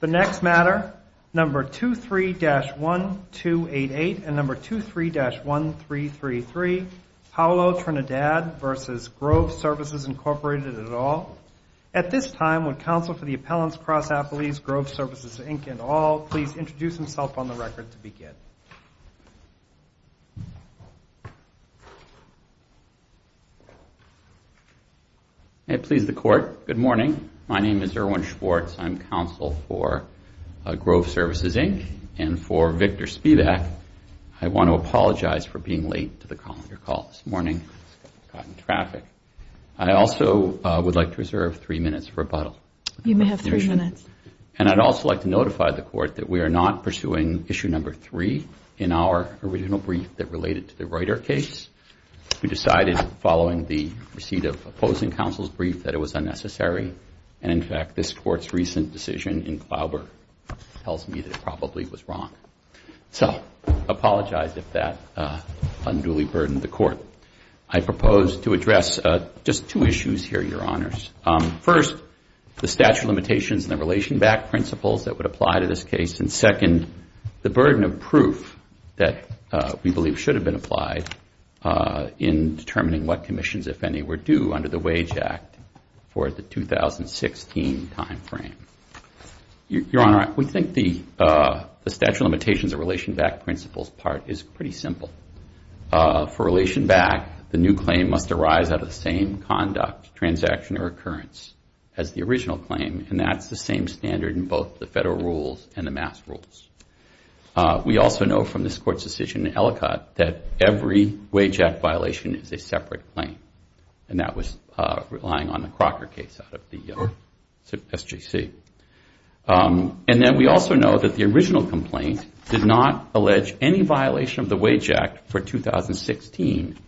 The next matter, No. 23-1288 and No. 23-1333, Paolo Trindade v. Grove Services, Incorporated, et al. At this time, would counsel for the Appellants Cross-Affiliates, Grove Services, Inc. et al. please introduce himself on the record to begin. May it please the Court. Good morning. My name is Erwin Schwartz. I'm counsel for Grove Services, Inc. and for Victor Spivak. I want to apologize for being late to the calendar call this morning. Got in traffic. I also would like to reserve three minutes for rebuttal. You may have three minutes. And I'd also like to notify the Court that we are not pursuing Issue No. 3 in our original brief that related to the Reuter case. We decided, following the receipt of opposing counsel's brief, that it was unnecessary. And, in fact, this Court's recent decision in Glauber tells me that it probably was wrong. So I apologize if that unduly burdened the Court. I propose to address just two issues here, Your Honors. First, the statute of limitations and the relation-backed principles that would apply to this case. And, second, the burden of proof that we believe should have been applied in determining what commissions, if any, were due under the Wage Act for the 2016 time frame. Your Honor, we think the statute of limitations and relation-backed principles part is pretty simple. For relation-backed, the new claim must arise out of the same conduct, transaction, or occurrence as the original claim. And that's the same standard in both the Federal rules and the Mass rules. We also know from this Court's decision in Ellicott that every Wage Act violation is a separate claim. And that was relying on the Crocker case out of the SJC. And then we also know that the original complaint did not allege any violation of the Wage Act for 2016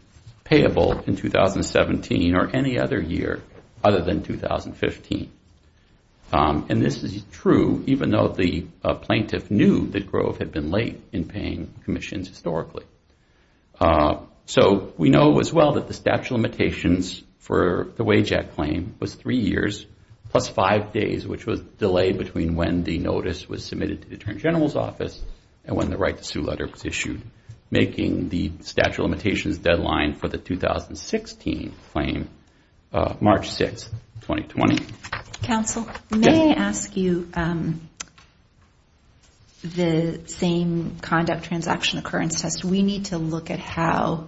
payable in 2017 or any other year other than 2015. And this is true even though the plaintiff knew that Grove had been late in paying commissions historically. So we know as well that the statute of limitations for the Wage Act claim was three years plus five days, which was the delay between when the notice was submitted to the Attorney General's office and when the right-to-sue letter was issued, making the statute of limitations deadline for the 2016 claim March 6, 2020. Counsel, may I ask you, the same conduct, transaction, occurrence test, we need to look at how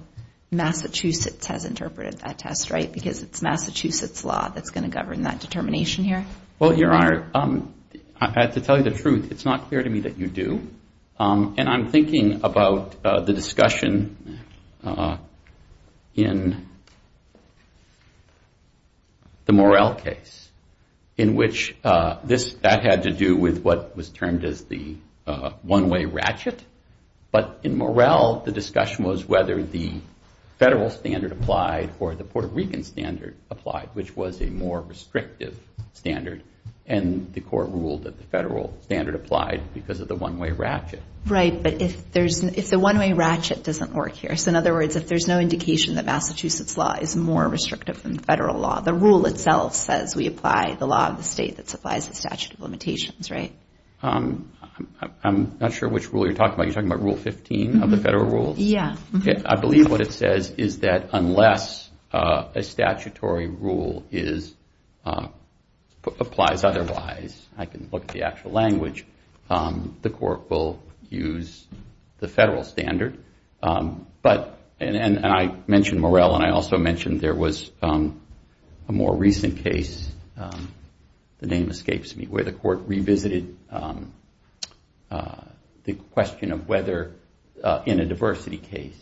Massachusetts has interpreted that test, right? Because it's Massachusetts law that's going to govern that determination here. Well, Your Honor, I have to tell you the truth. It's not clear to me that you do. And I'm thinking about the discussion in the Morrell case in which that had to do with what was termed as the one-way ratchet. But in Morrell, the discussion was whether the federal standard applied or the Puerto Rican standard applied, which was a more restrictive standard. And the court ruled that the federal standard applied because of the one-way ratchet. Right, but if the one-way ratchet doesn't work here, so in other words, if there's no indication that Massachusetts law is more restrictive than federal law, the rule itself says we apply the law of the state that supplies the statute of limitations, right? I'm not sure which rule you're talking about. You're talking about Rule 15 of the federal rules? Yeah. I believe what it says is that unless a statutory rule applies otherwise, I can look at the actual language, the court will use the federal standard. And I mentioned Morrell, and I also mentioned there was a more recent case, the name escapes me, where the court revisited the question of whether in a diversity case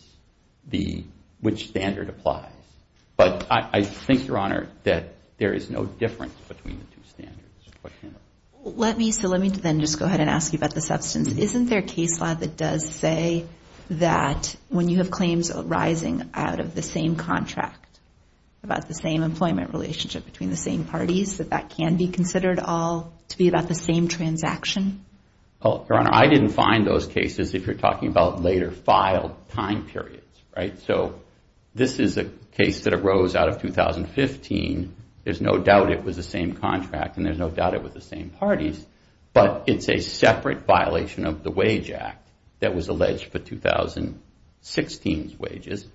which standard applies. But I think, Your Honor, that there is no difference between the two standards. Let me then just go ahead and ask you about the substance. Isn't there a case law that does say that when you have claims arising out of the same contract, about the same employment relationship between the same parties, that that can be considered all to be about the same transaction? Well, Your Honor, I didn't find those cases if you're talking about later filed time periods, right? So this is a case that arose out of 2015. There's no doubt it was the same contract, and there's no doubt it was the same parties, but it's a separate violation of the Wage Act that was alleged for 2016's wages.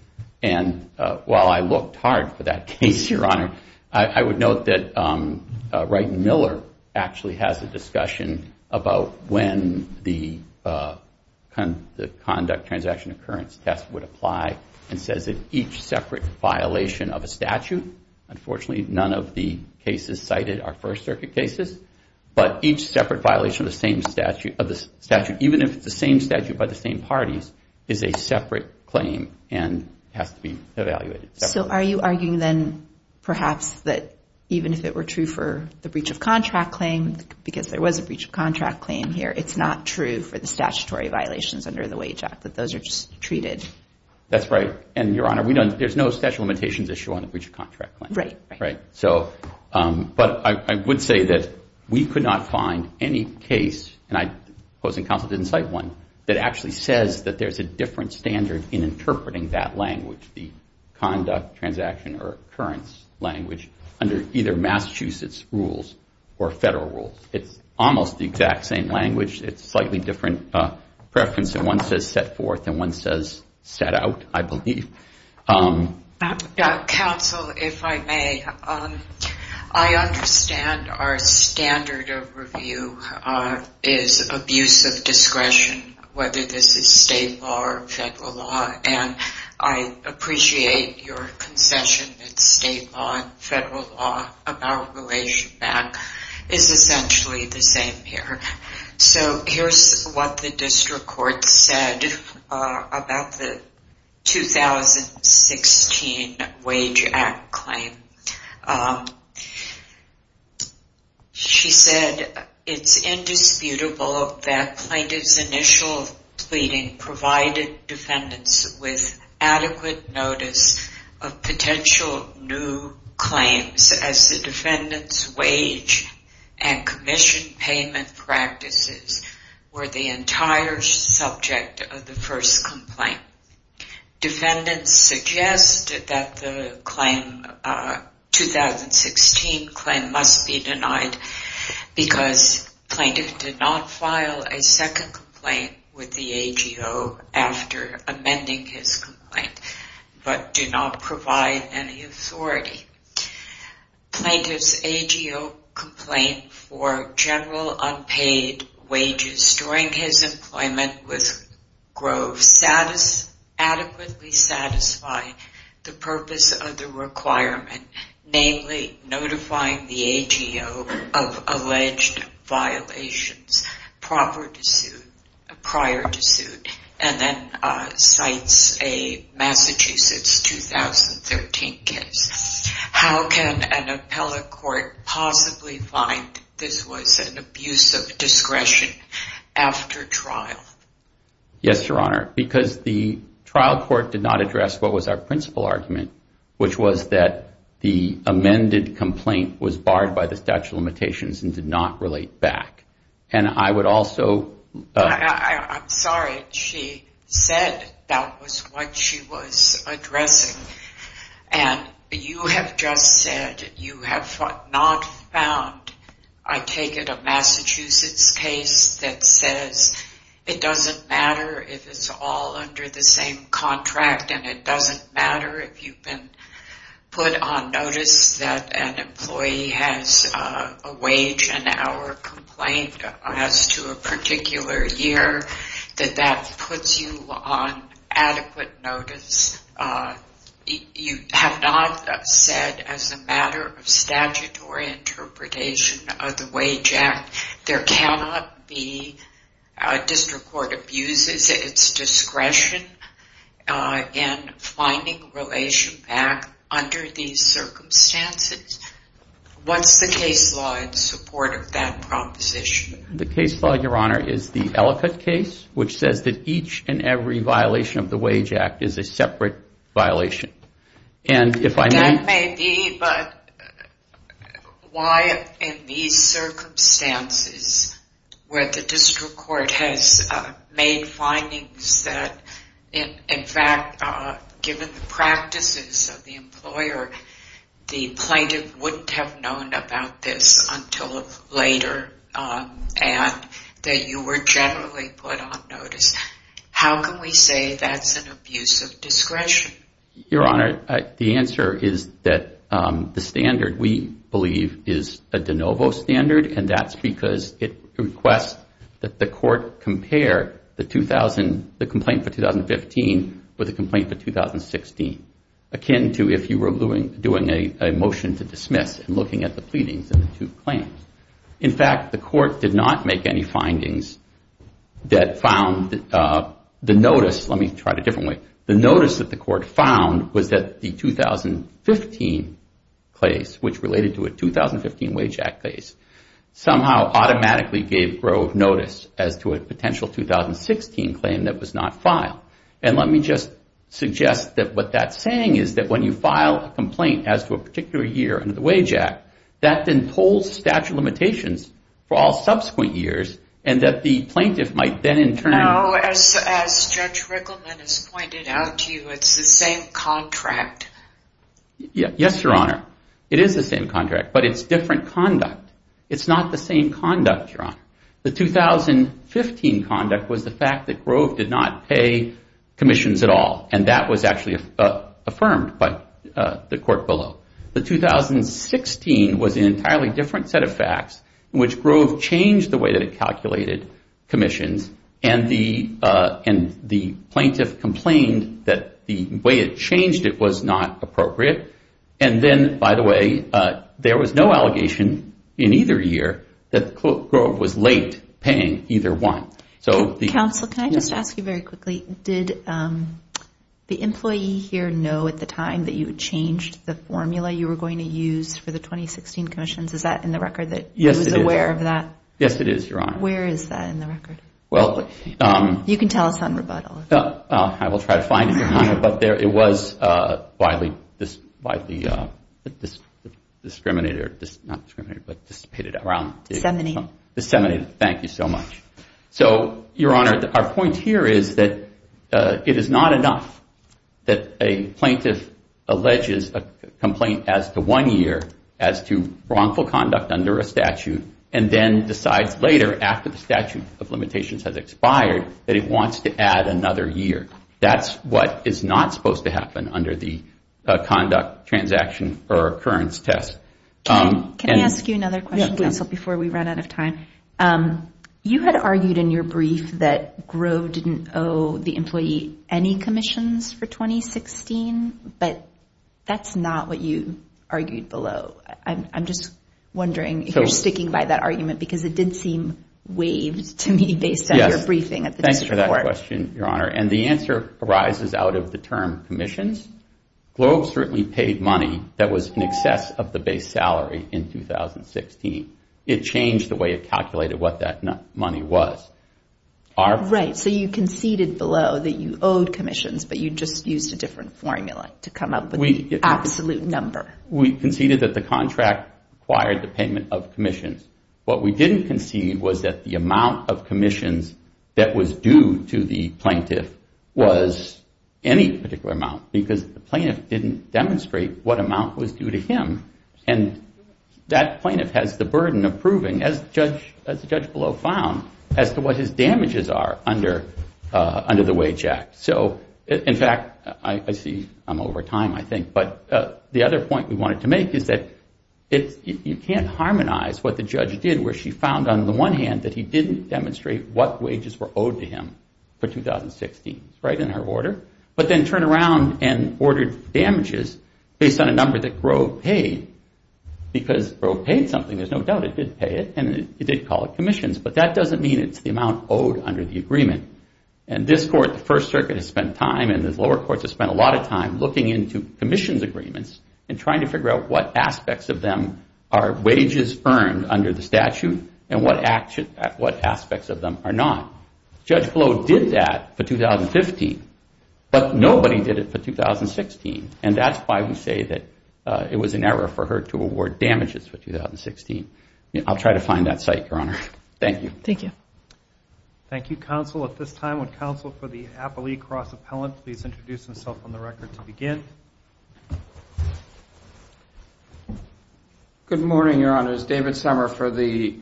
And while I looked hard for that case, Your Honor, I would note that Wright and Miller actually has a discussion about when the conduct transaction occurrence test would apply and says that each separate violation of a statute, unfortunately none of the cases cited are First Circuit cases, but each separate violation of the same statute, even if it's the same statute by the same parties, is a separate claim and has to be evaluated separately. So are you arguing then perhaps that even if it were true for the breach of contract claim, because there was a breach of contract claim here, it's not true for the statutory violations under the Wage Act, that those are just treated? That's right, and Your Honor, there's no statute of limitations issue on the breach of contract claim. Right, right. Right, so, but I would say that we could not find any case, and opposing counsel didn't cite one, that actually says that there's a different standard in interpreting that language, the conduct transaction or occurrence language under either Massachusetts rules or federal rules. It's almost the exact same language. It's slightly different preference, and one says set forth and one says set out, I believe. Counsel, if I may, I understand our standard of review is abuse of discretion, whether this is state law or federal law, and I appreciate your concession that state law and federal law about relation back is essentially the same here. So here's what the district court said about the 2016 Wage Act claim. She said, it's indisputable that plaintiff's initial pleading provided defendants with adequate notice of potential new claims as the defendant's wage and commission payment practices were the entire subject of the first complaint. Defendants suggested that the 2016 claim must be denied because plaintiff did not file a second complaint with the AGO after amending his complaint, but do not provide any authority. Plaintiff's AGO complaint for general unpaid wages during his employment with Grove adequately satisfied the purpose of the requirement, namely notifying the AGO of alleged violations prior to suit, and then cites a Massachusetts 2013 case. How can an appellate court possibly find this was an abuse of discretion after trial? Yes, Your Honor, because the trial court did not address what was our principal argument, which was that the amended complaint was barred by the statute of limitations and did not relate back. And I would also... I'm sorry, she said that was what she was addressing. And you have just said you have not found, I take it a Massachusetts case that says it doesn't matter if it's all under the same contract and it doesn't matter if you've been put on notice that an employee has a wage an hour complaint as to a particular year, that that puts you on adequate notice. You have not said as a matter of statutory interpretation of the Wage Act, there cannot be a district court abuses its discretion in finding relation back under these circumstances. What's the case law in support of that proposition? The case law, Your Honor, is the Ellicott case, which says that each and every violation of the Wage Act is a separate violation. That may be, but why in these circumstances where the district court has made findings that, in fact, given the practices of the employer, the plaintiff wouldn't have known about this until later and that you were generally put on notice, how can we say that's an abuse of discretion? Your Honor, the answer is that the standard we believe is a de novo standard and that's because it requests that the court compare the complaint for 2015 with the complaint for 2016, akin to if you were doing a motion to dismiss and looking at the pleadings and the two claims. In fact, the court did not make any findings that found the notice, let me try it a different way, the notice that the court found was that the 2015 case, which related to a 2015 Wage Act case, somehow automatically gave Grove notice as to a potential 2016 claim that was not filed. And let me just suggest that what that's saying is that when you file a complaint as to a particular year under the Wage Act, that then holds statute of limitations for all subsequent years and that the plaintiff might then in turn. Now, as Judge Rickleman has pointed out to you, it's the same contract. Yes, Your Honor, it is the same contract, but it's different conduct. It's not the same conduct, Your Honor. The 2015 conduct was the fact that Grove did not pay commissions at all and that was actually affirmed by the court below. The 2016 was an entirely different set of facts in which Grove changed the way that it calculated commissions and the plaintiff complained that the way it changed it was not appropriate. And then, by the way, there was no allegation in either year that Grove was late paying either one. Counsel, can I just ask you very quickly, did the employee here know at the time that you had changed the formula you were going to use for the 2016 commissions? Is that in the record that he was aware of that? Yes, it is, Your Honor. Where is that in the record? You can tell us on rebuttal. I will try to find it, Your Honor, but it was widely discriminated around. Disseminated. Disseminated, thank you so much. So, Your Honor, our point here is that it is not enough that a plaintiff alleges a complaint as to one year as to wrongful conduct under a statute and then decides later, after the statute of limitations has expired, that it wants to add another year. That's what is not supposed to happen under the conduct transaction or occurrence test. Can I ask you another question, Counsel, before we run out of time? You had argued in your brief that Grove didn't owe the employee any commissions for 2016, but that's not what you argued below. I'm just wondering if you're sticking by that argument because it did seem waived to me based on your briefing at the district court. Yes, thanks for that question, Your Honor. And the answer arises out of the term commissions. Grove certainly paid money that was in excess of the base salary in 2016. It changed the way it calculated what that money was. Right, so you conceded below that you owed commissions, but you just used a different formula to come up with the absolute number. We conceded that the contract required the payment of commissions. What we didn't concede was that the amount of commissions that was due to the plaintiff was any particular amount because the plaintiff didn't demonstrate what amount was due to him. And that plaintiff has the burden of proving, as the judge below found, as to what his damages are under the Wage Act. So, in fact, I see I'm over time, I think. But the other point we wanted to make is that you can't harmonize what the judge did where she found on the one hand that he didn't demonstrate what wages were owed to him for 2016, right, in her order, but then turned around and ordered damages based on a number that Grove paid. Because Grove paid something, there's no doubt it did pay it, and it did call it commissions. But that doesn't mean it's the amount owed under the agreement. And this court, the First Circuit, has spent time and the lower courts have spent a lot of time looking into commissions agreements and trying to figure out what aspects of them are wages earned under the statute and what aspects of them are not. Judge Blow did that for 2015, but nobody did it for 2016. And that's why we say that it was an error for her to award damages for 2016. I'll try to find that site, Your Honor. Thank you. Thank you. Thank you, counsel. At this time, would counsel for the appellee cross-appellant please introduce himself on the record to begin? Good morning, Your Honors. David Sommer for the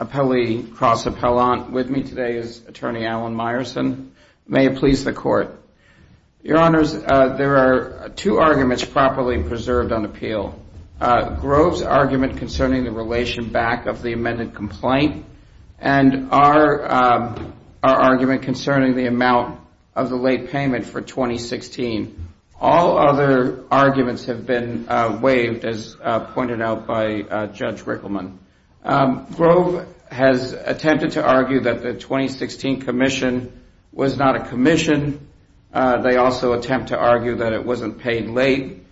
appellee cross-appellant. With me today is Attorney Alan Meyerson. May it please the Court. Your Honors, there are two arguments properly preserved on appeal. Grove's argument concerning the relation back of the amended complaint and our argument concerning the amount of the late payment for 2016. All other arguments have been waived as pointed out by Judge Rickleman. Grove has attempted to argue that the 2016 commission was not a commission. They also attempt to argue that it wasn't paid late.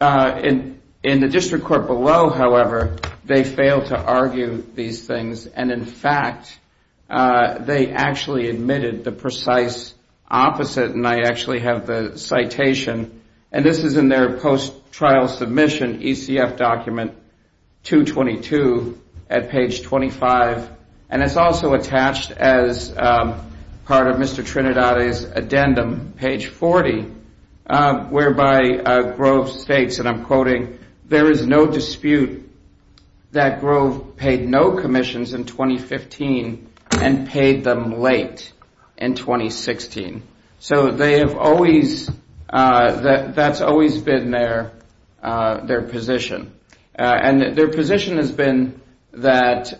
In the district court below, however, they failed to argue these things. And, in fact, they actually admitted the precise opposite. And I actually have the citation. And this is in their post-trial submission ECF document 222 at page 25. And it's also attached as part of Mr. Trinidadi's addendum, page 40, whereby Grove states, and I'm quoting, there is no dispute that Grove paid no commissions in 2015 and paid them late in 2016. So they have always, that's always been their position. And their position has been that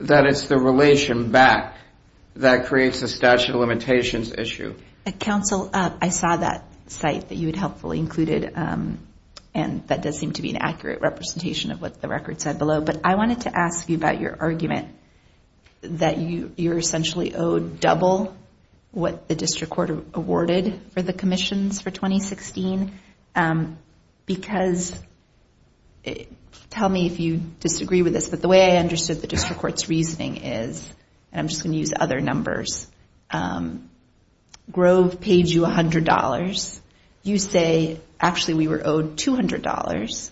it's the relation back that creates a statute of limitations issue. Counsel, I saw that site that you had helpfully included. And that does seem to be an accurate representation of what the record said below. But I wanted to ask you about your argument that you're essentially owed double what the district court awarded for the commissions for 2016. Because tell me if you disagree with this. The way I understood the district court's reasoning is, and I'm just going to use other numbers, Grove paid you $100. You say, actually, we were owed $200.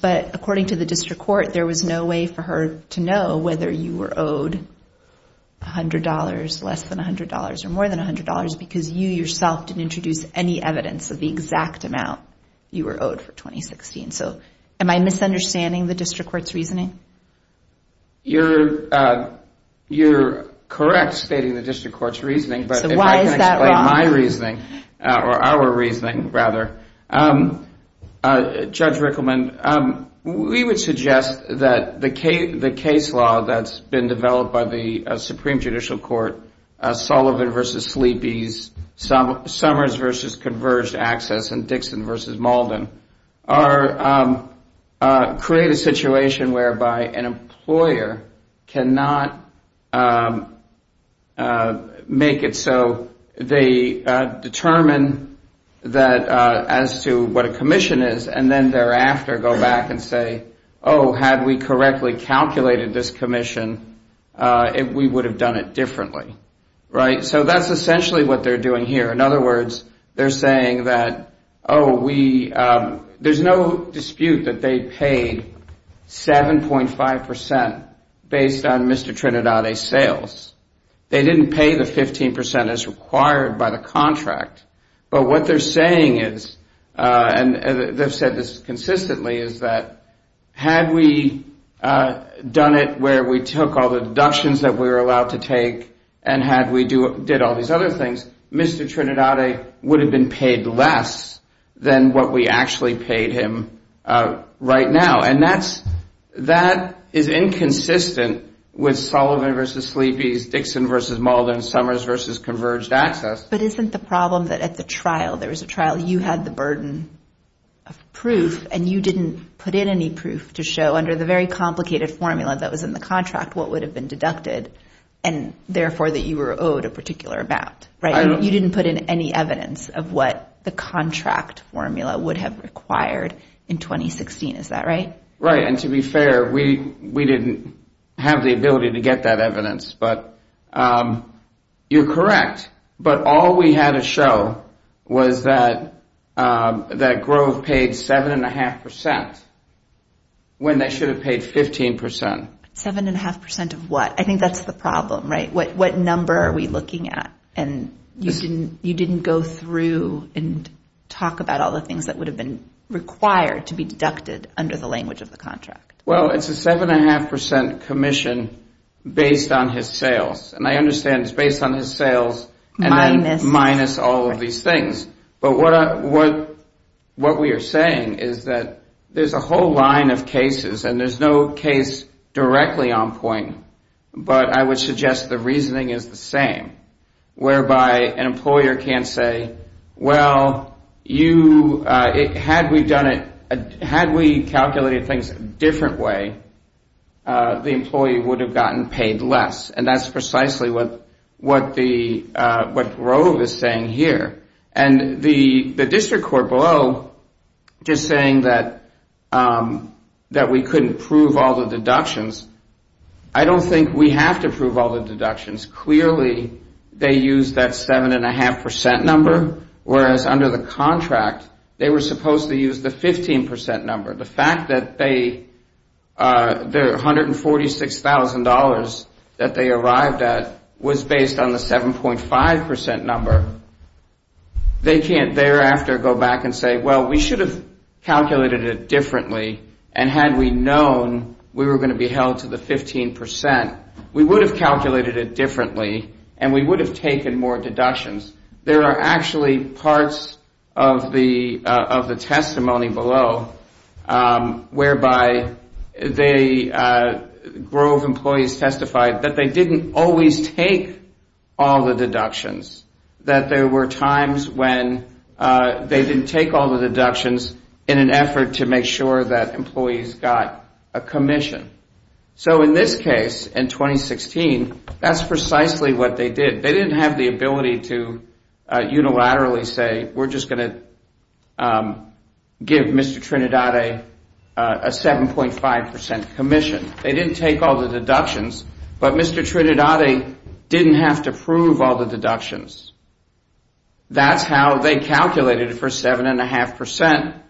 But according to the district court, there was no way for her to know whether you were owed $100, less than $100, or more than $100, because you yourself didn't introduce any evidence of the exact amount you were owed for 2016. So am I misunderstanding the district court's reasoning? You're correct stating the district court's reasoning. So why is that wrong? But if I can explain my reasoning, or our reasoning, rather. Judge Rickleman, we would suggest that the case law that's been developed by the Supreme Judicial Court, Sullivan v. Sleepy's, Summers v. Converged Access, and Dixon v. Malden, create a situation whereby an employer cannot make it so they determine that as to what a commission is, and then thereafter go back and say, oh, had we correctly calculated this commission, we would have done it differently. So that's essentially what they're doing here. In other words, they're saying that, oh, there's no dispute that they paid 7.5% based on Mr. Trinidad's sales. They didn't pay the 15% as required by the contract. But what they're saying is, and they've said this consistently, is that had we done it where we took all the deductions that we were allowed to take, and had we did all these other things, Mr. Trinidad would have been paid less than what we actually paid him right now. And that is inconsistent with Sullivan v. Sleepy's, Dixon v. Malden, Summers v. Converged Access. But isn't the problem that at the trial, there was a trial, you had the burden of proof, and you didn't put in any proof to show under the very complicated formula that was in the contract what would have been deducted, and therefore that you were owed a particular amount, right? You didn't put in any evidence of what the contract formula would have required in 2016, is that right? Right, and to be fair, we didn't have the ability to get that evidence. But you're correct. But all we had to show was that Grove paid 7.5% when they should have paid 15%. 7.5% of what? I think that's the problem, right? What number are we looking at? And you didn't go through and talk about all the things that would have been required to be deducted under the language of the contract. Well, it's a 7.5% commission based on his sales, and I understand it's based on his sales minus all of these things. But what we are saying is that there's a whole line of cases, and there's no case directly on point, but I would suggest the reasoning is the same, whereby an employer can't say, well, had we calculated things a different way, the employee would have gotten paid less, and that's precisely what Grove is saying here. And the district court below just saying that we couldn't prove all the deductions, I don't think we have to prove all the deductions. Clearly they used that 7.5% number, whereas under the contract they were supposed to use the 15% number. The fact that their $146,000 that they arrived at was based on the 7.5% number, they can't thereafter go back and say, well, we should have calculated it differently, and had we known we were going to be held to the 15%, we would have calculated it differently, and we would have taken more deductions. There are actually parts of the testimony below whereby the Grove employees testified that they didn't always take all the deductions, that there were times when they didn't take all the deductions in an effort to make sure that employees got a commission. So in this case, in 2016, that's precisely what they did. They didn't have the ability to unilaterally say, we're just going to give Mr. Trinidad a 7.5% commission. They didn't take all the deductions, but Mr. Trinidad didn't have to prove all the deductions. That's how they calculated it for 7.5%,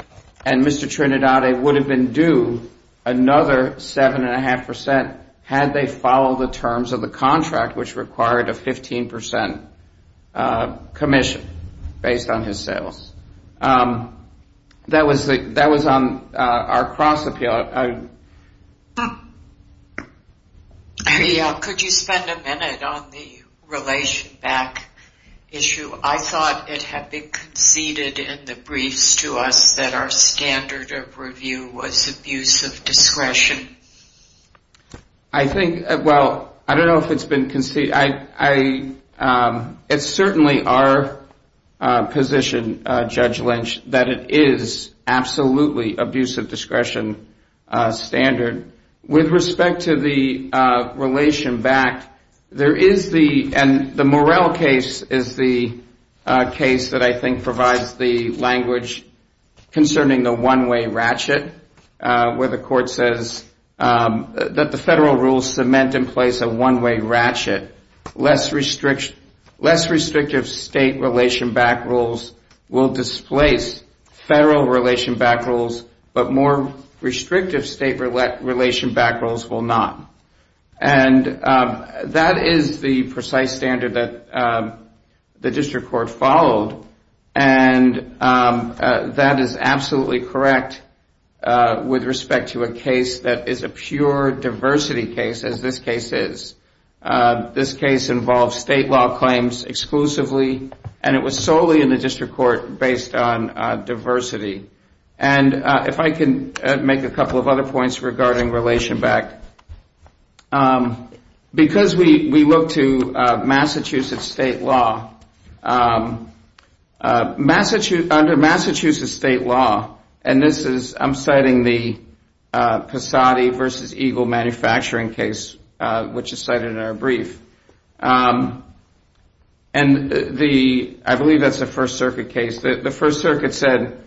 and Mr. Trinidad, it would have been due another 7.5% had they followed the terms of the contract, which required a 15% commission based on his sales. That was on our cross-appeal. Could you spend a minute on the relation back issue? I thought it had been conceded in the briefs to us that our standard of review was abuse of discretion. I think, well, I don't know if it's been conceded. It's certainly our position, Judge Lynch, that it is absolutely abuse of discretion standard. With respect to the relation back, there is the, and the Morrell case is the case that I think provides the language concerning the one-way ratchet, where the court says that the federal rules cement in place a one-way ratchet. Less restrictive state relation back rules will displace federal relation back rules, but more restrictive state relation back rules will not. That is the precise standard that the district court followed. That is absolutely correct with respect to a case that is a pure diversity case, as this case is. This case involves state law claims exclusively, and it was solely in the district court based on diversity. If I can make a couple of other points regarding relation back. Because we look to Massachusetts state law, under Massachusetts state law, and this is, I'm citing the Passati v. Eagle manufacturing case, which is cited in our brief, and I believe that's a First Circuit case, the First Circuit said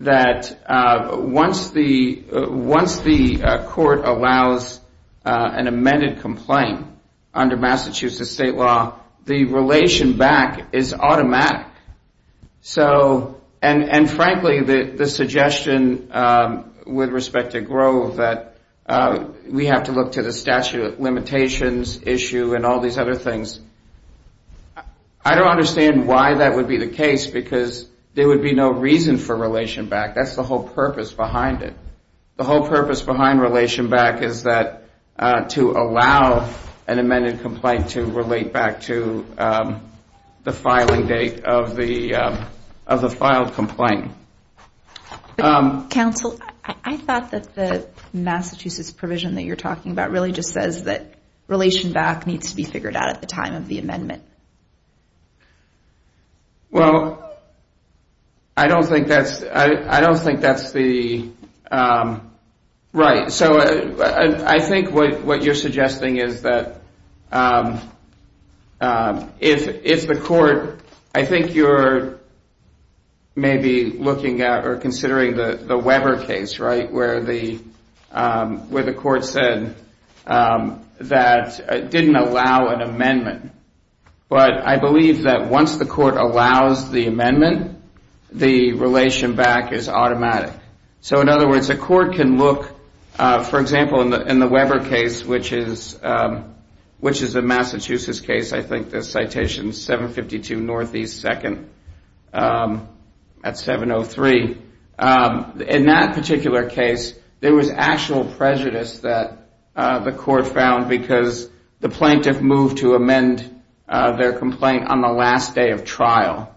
that once the court allows an amended complaint under Massachusetts state law, the relation back is automatic. So, and frankly, the suggestion with respect to Grove, that we have to look to the statute of limitations issue and all these other things, I don't understand why that would be the case, because there would be no reason for relation back, that's the whole purpose behind it. The whole purpose behind relation back is that, to allow an amended complaint to relate back to the filing date of the filed complaint. Counsel, I thought that the Massachusetts provision that you're talking about really just says that relation back needs to be figured out at the time of the amendment. Well, I don't think that's the, right, so I think what you're suggesting is that, if the court, I think you're maybe looking at or considering the Weber case, where the court said that it didn't allow an amendment, but I believe that once the court allows the amendment, the relation back is automatic. So, in other words, the court can look, for example, in the Weber case, which is a Massachusetts case, I think the citation is 752 Northeast 2nd at 703. In that particular case, there was actual prejudice that the court found because the plaintiff moved to amend their complaint on the last day of trial.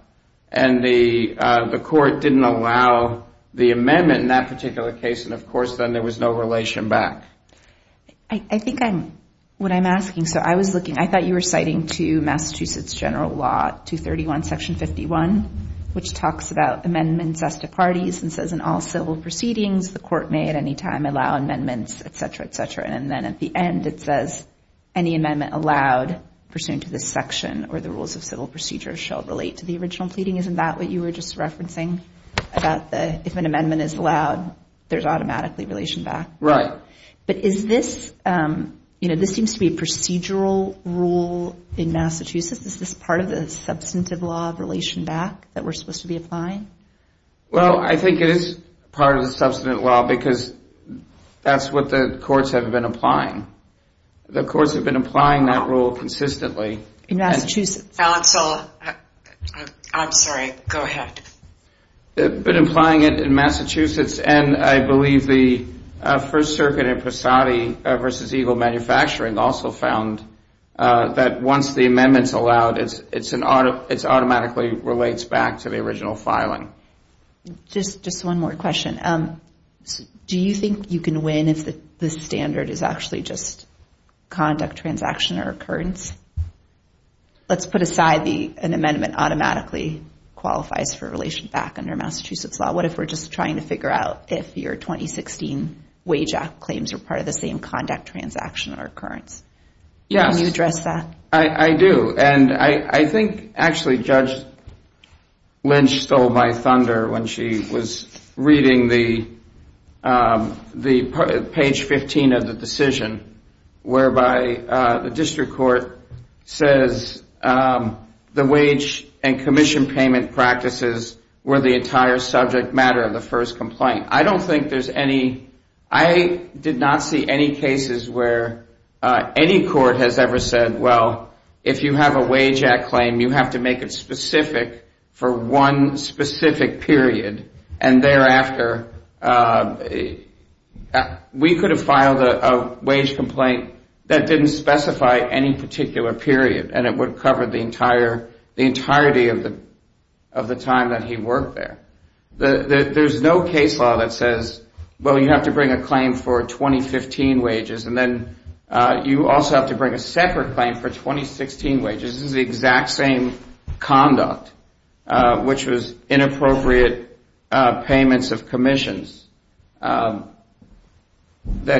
And the court didn't allow the amendment in that particular case, and of course, then there was no relation back. I think I'm, what I'm asking, so I was looking, I thought you were citing to Massachusetts general law, 231 section 51, which talks about amendments as to parties and says in all civil proceedings, the court may at any time allow amendments, et cetera, et cetera, and then at the end it says, any amendment allowed pursuant to this section or the rules of civil procedure shall relate to the original pleading. Isn't that what you were just referencing about the, if an amendment is allowed, there's automatically relation back? Right. But is this, you know, this seems to be a procedural rule in Massachusetts. Is this part of the substantive law of relation back that we're supposed to be applying? Well, I think it is part of the substantive law because that's what the courts have been applying. The courts have been applying that rule consistently. I'm sorry, go ahead. But implying it in Massachusetts, and I believe the First Circuit in Posadi versus Eagle Manufacturing also found that once the amendment's allowed, it automatically relates back to the original filing. Just one more question. Do you think you can win if the standard is actually just conduct, transaction, or occurrence? Let's put aside an amendment automatically qualifies for relation back under Massachusetts law. What if we're just trying to figure out if your 2016 wage act claims are part of the same conduct, transaction, or occurrence? Yes. Can you address that? I do, and I think actually Judge Lynch stole my thunder when she was reading the page 15 of the decision, whereby the district court says the wage and commission payment practices were the entire subject matter of the first complaint. I don't think there's any, I did not see any cases where any court has ever said, well, I don't think there's any case where the district court has ever said, well, if you have a wage act claim, you have to make it specific for one specific period, and thereafter, we could have filed a wage complaint that didn't specify any particular period, and it would cover the entirety of the time that he worked there. There's no case law that says, well, you have to bring a claim for 2015 wages, and then you also have to bring a separate claim for 2016 wages. This is the exact same conduct, which was inappropriate payments of commissions that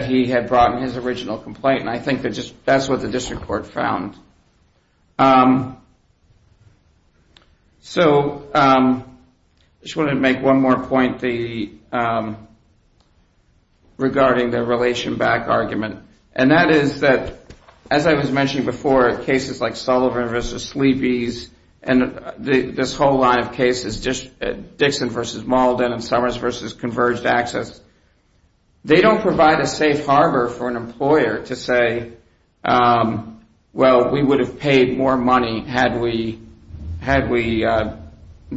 he had brought in his original complaint, and I think that's what the district court found. I just wanted to make one more point regarding the relation back argument. And that is that, as I was mentioning before, cases like Sullivan v. Sleepy's, and this whole line of cases, Dixon v. Malden and Summers v. Converged Access, they don't provide a safe harbor for an employer to say, well, we would have paid more money had we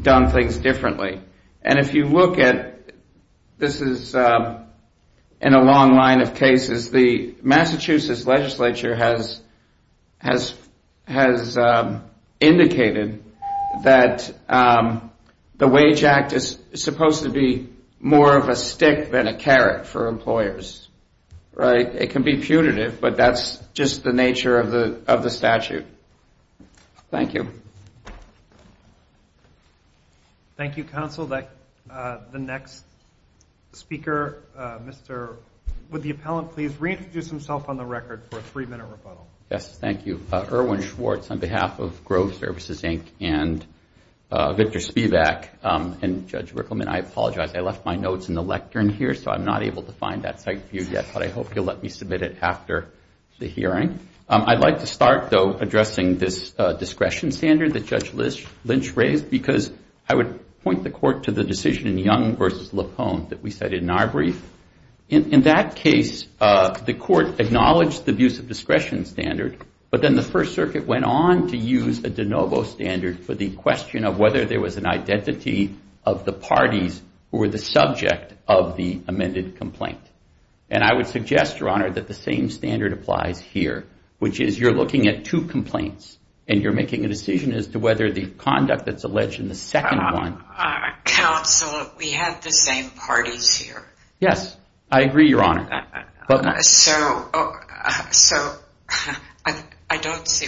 done things differently. And if you look at, this is in a long line of cases, the Massachusetts legislature has indicated that the wage act is supposed to be more of a stick than a carrot for employers, right? It can be putative, but that's just the nature of the statute. Thank you. Thank you, counsel. The next speaker, would the appellant please reintroduce himself on the record for a three-minute rebuttal? Yes, thank you. Irwin Schwartz on behalf of Grove Services, Inc., and Victor Spivak, and Judge Rickleman, I apologize, I left my notes in the lectern here, so I'm not able to find that site for you yet, but I hope you'll let me submit it after the hearing. I'd like to start, though, addressing this discretion standard that Judge Lynch raised, because I would point the court to the decision in Young v. LaPone that we cited in our brief. And I would suggest, Your Honor, that the same standard applies here, which is you're looking at two complaints, and you're making a decision as to whether the conduct that's alleged in the second one... I don't see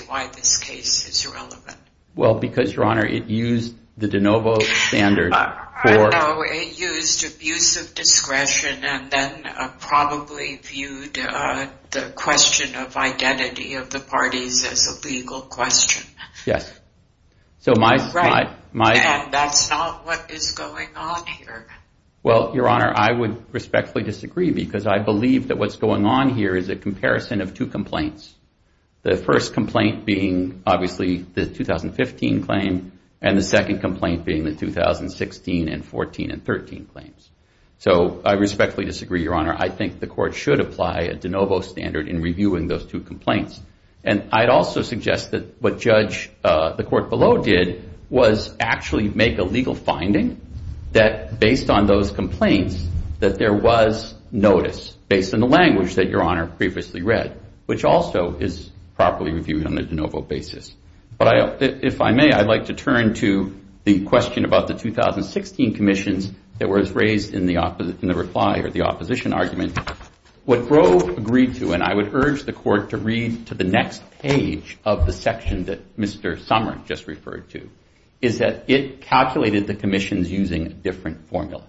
why this case is relevant. Well, because, Your Honor, it used the de novo standard for... I know, it used abuse of discretion, and then probably viewed the question of identity of the parties as a legal question. Yes. And that's not what is going on here. Well, Your Honor, I would respectfully disagree, because I believe that what's going on here is a comparison of two complaints. The first complaint being, obviously, the 2015 claim, and the second complaint being the 2016 and 14 and 13 claims. So I respectfully disagree, Your Honor. I think the court should apply a de novo standard in reviewing those two complaints. And I'd also suggest that what the court below did was actually make a legal finding that, based on those complaints, that there was notice, based on the language that Your Honor previously read, which also is properly reviewed on a de novo basis. But if I may, I'd like to turn to the question about the 2016 commissions that was raised in the reply, or the opposition argument. What Grove agreed to, and I would urge the court to read to the next page of the section that Mr. Summer just referred to, is that it calculated the commissions using a different formula.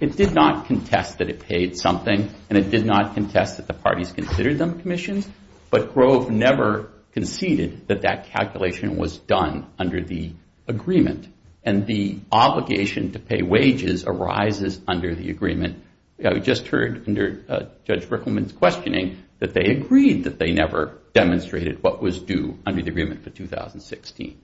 It did not contest that it paid something, and it did not contest that the parties considered them commissions, but Grove never conceded that that calculation was done under the agreement, and the obligation to pay wages arises under the agreement. We just heard, under Judge Rickleman's questioning, that they agreed that they never demonstrated what was due under the agreement for 2016.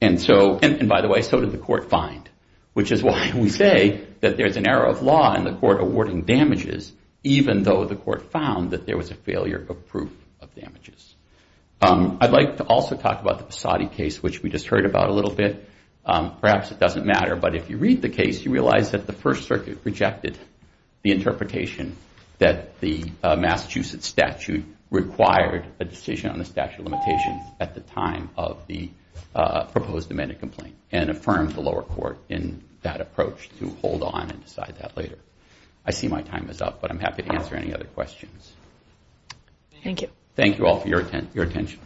And so, and by the way, so did the court find, which is why we say that there's an error of law in the court awarding damages, even though the court found that there was a failure of proof of damages. I'd like to also talk about the Posadi case, which we just heard about a little bit. Perhaps it doesn't matter, but if you read the case, you realize that the First Circuit rejected the interpretation that the Massachusetts statute required a decision on the statute of limitations at the time of the proposed amended complaint, and affirmed the lower court in that approach to hold on and decide that later. I see my time is up, but I'm happy to answer any other questions. Thank you all for your attention.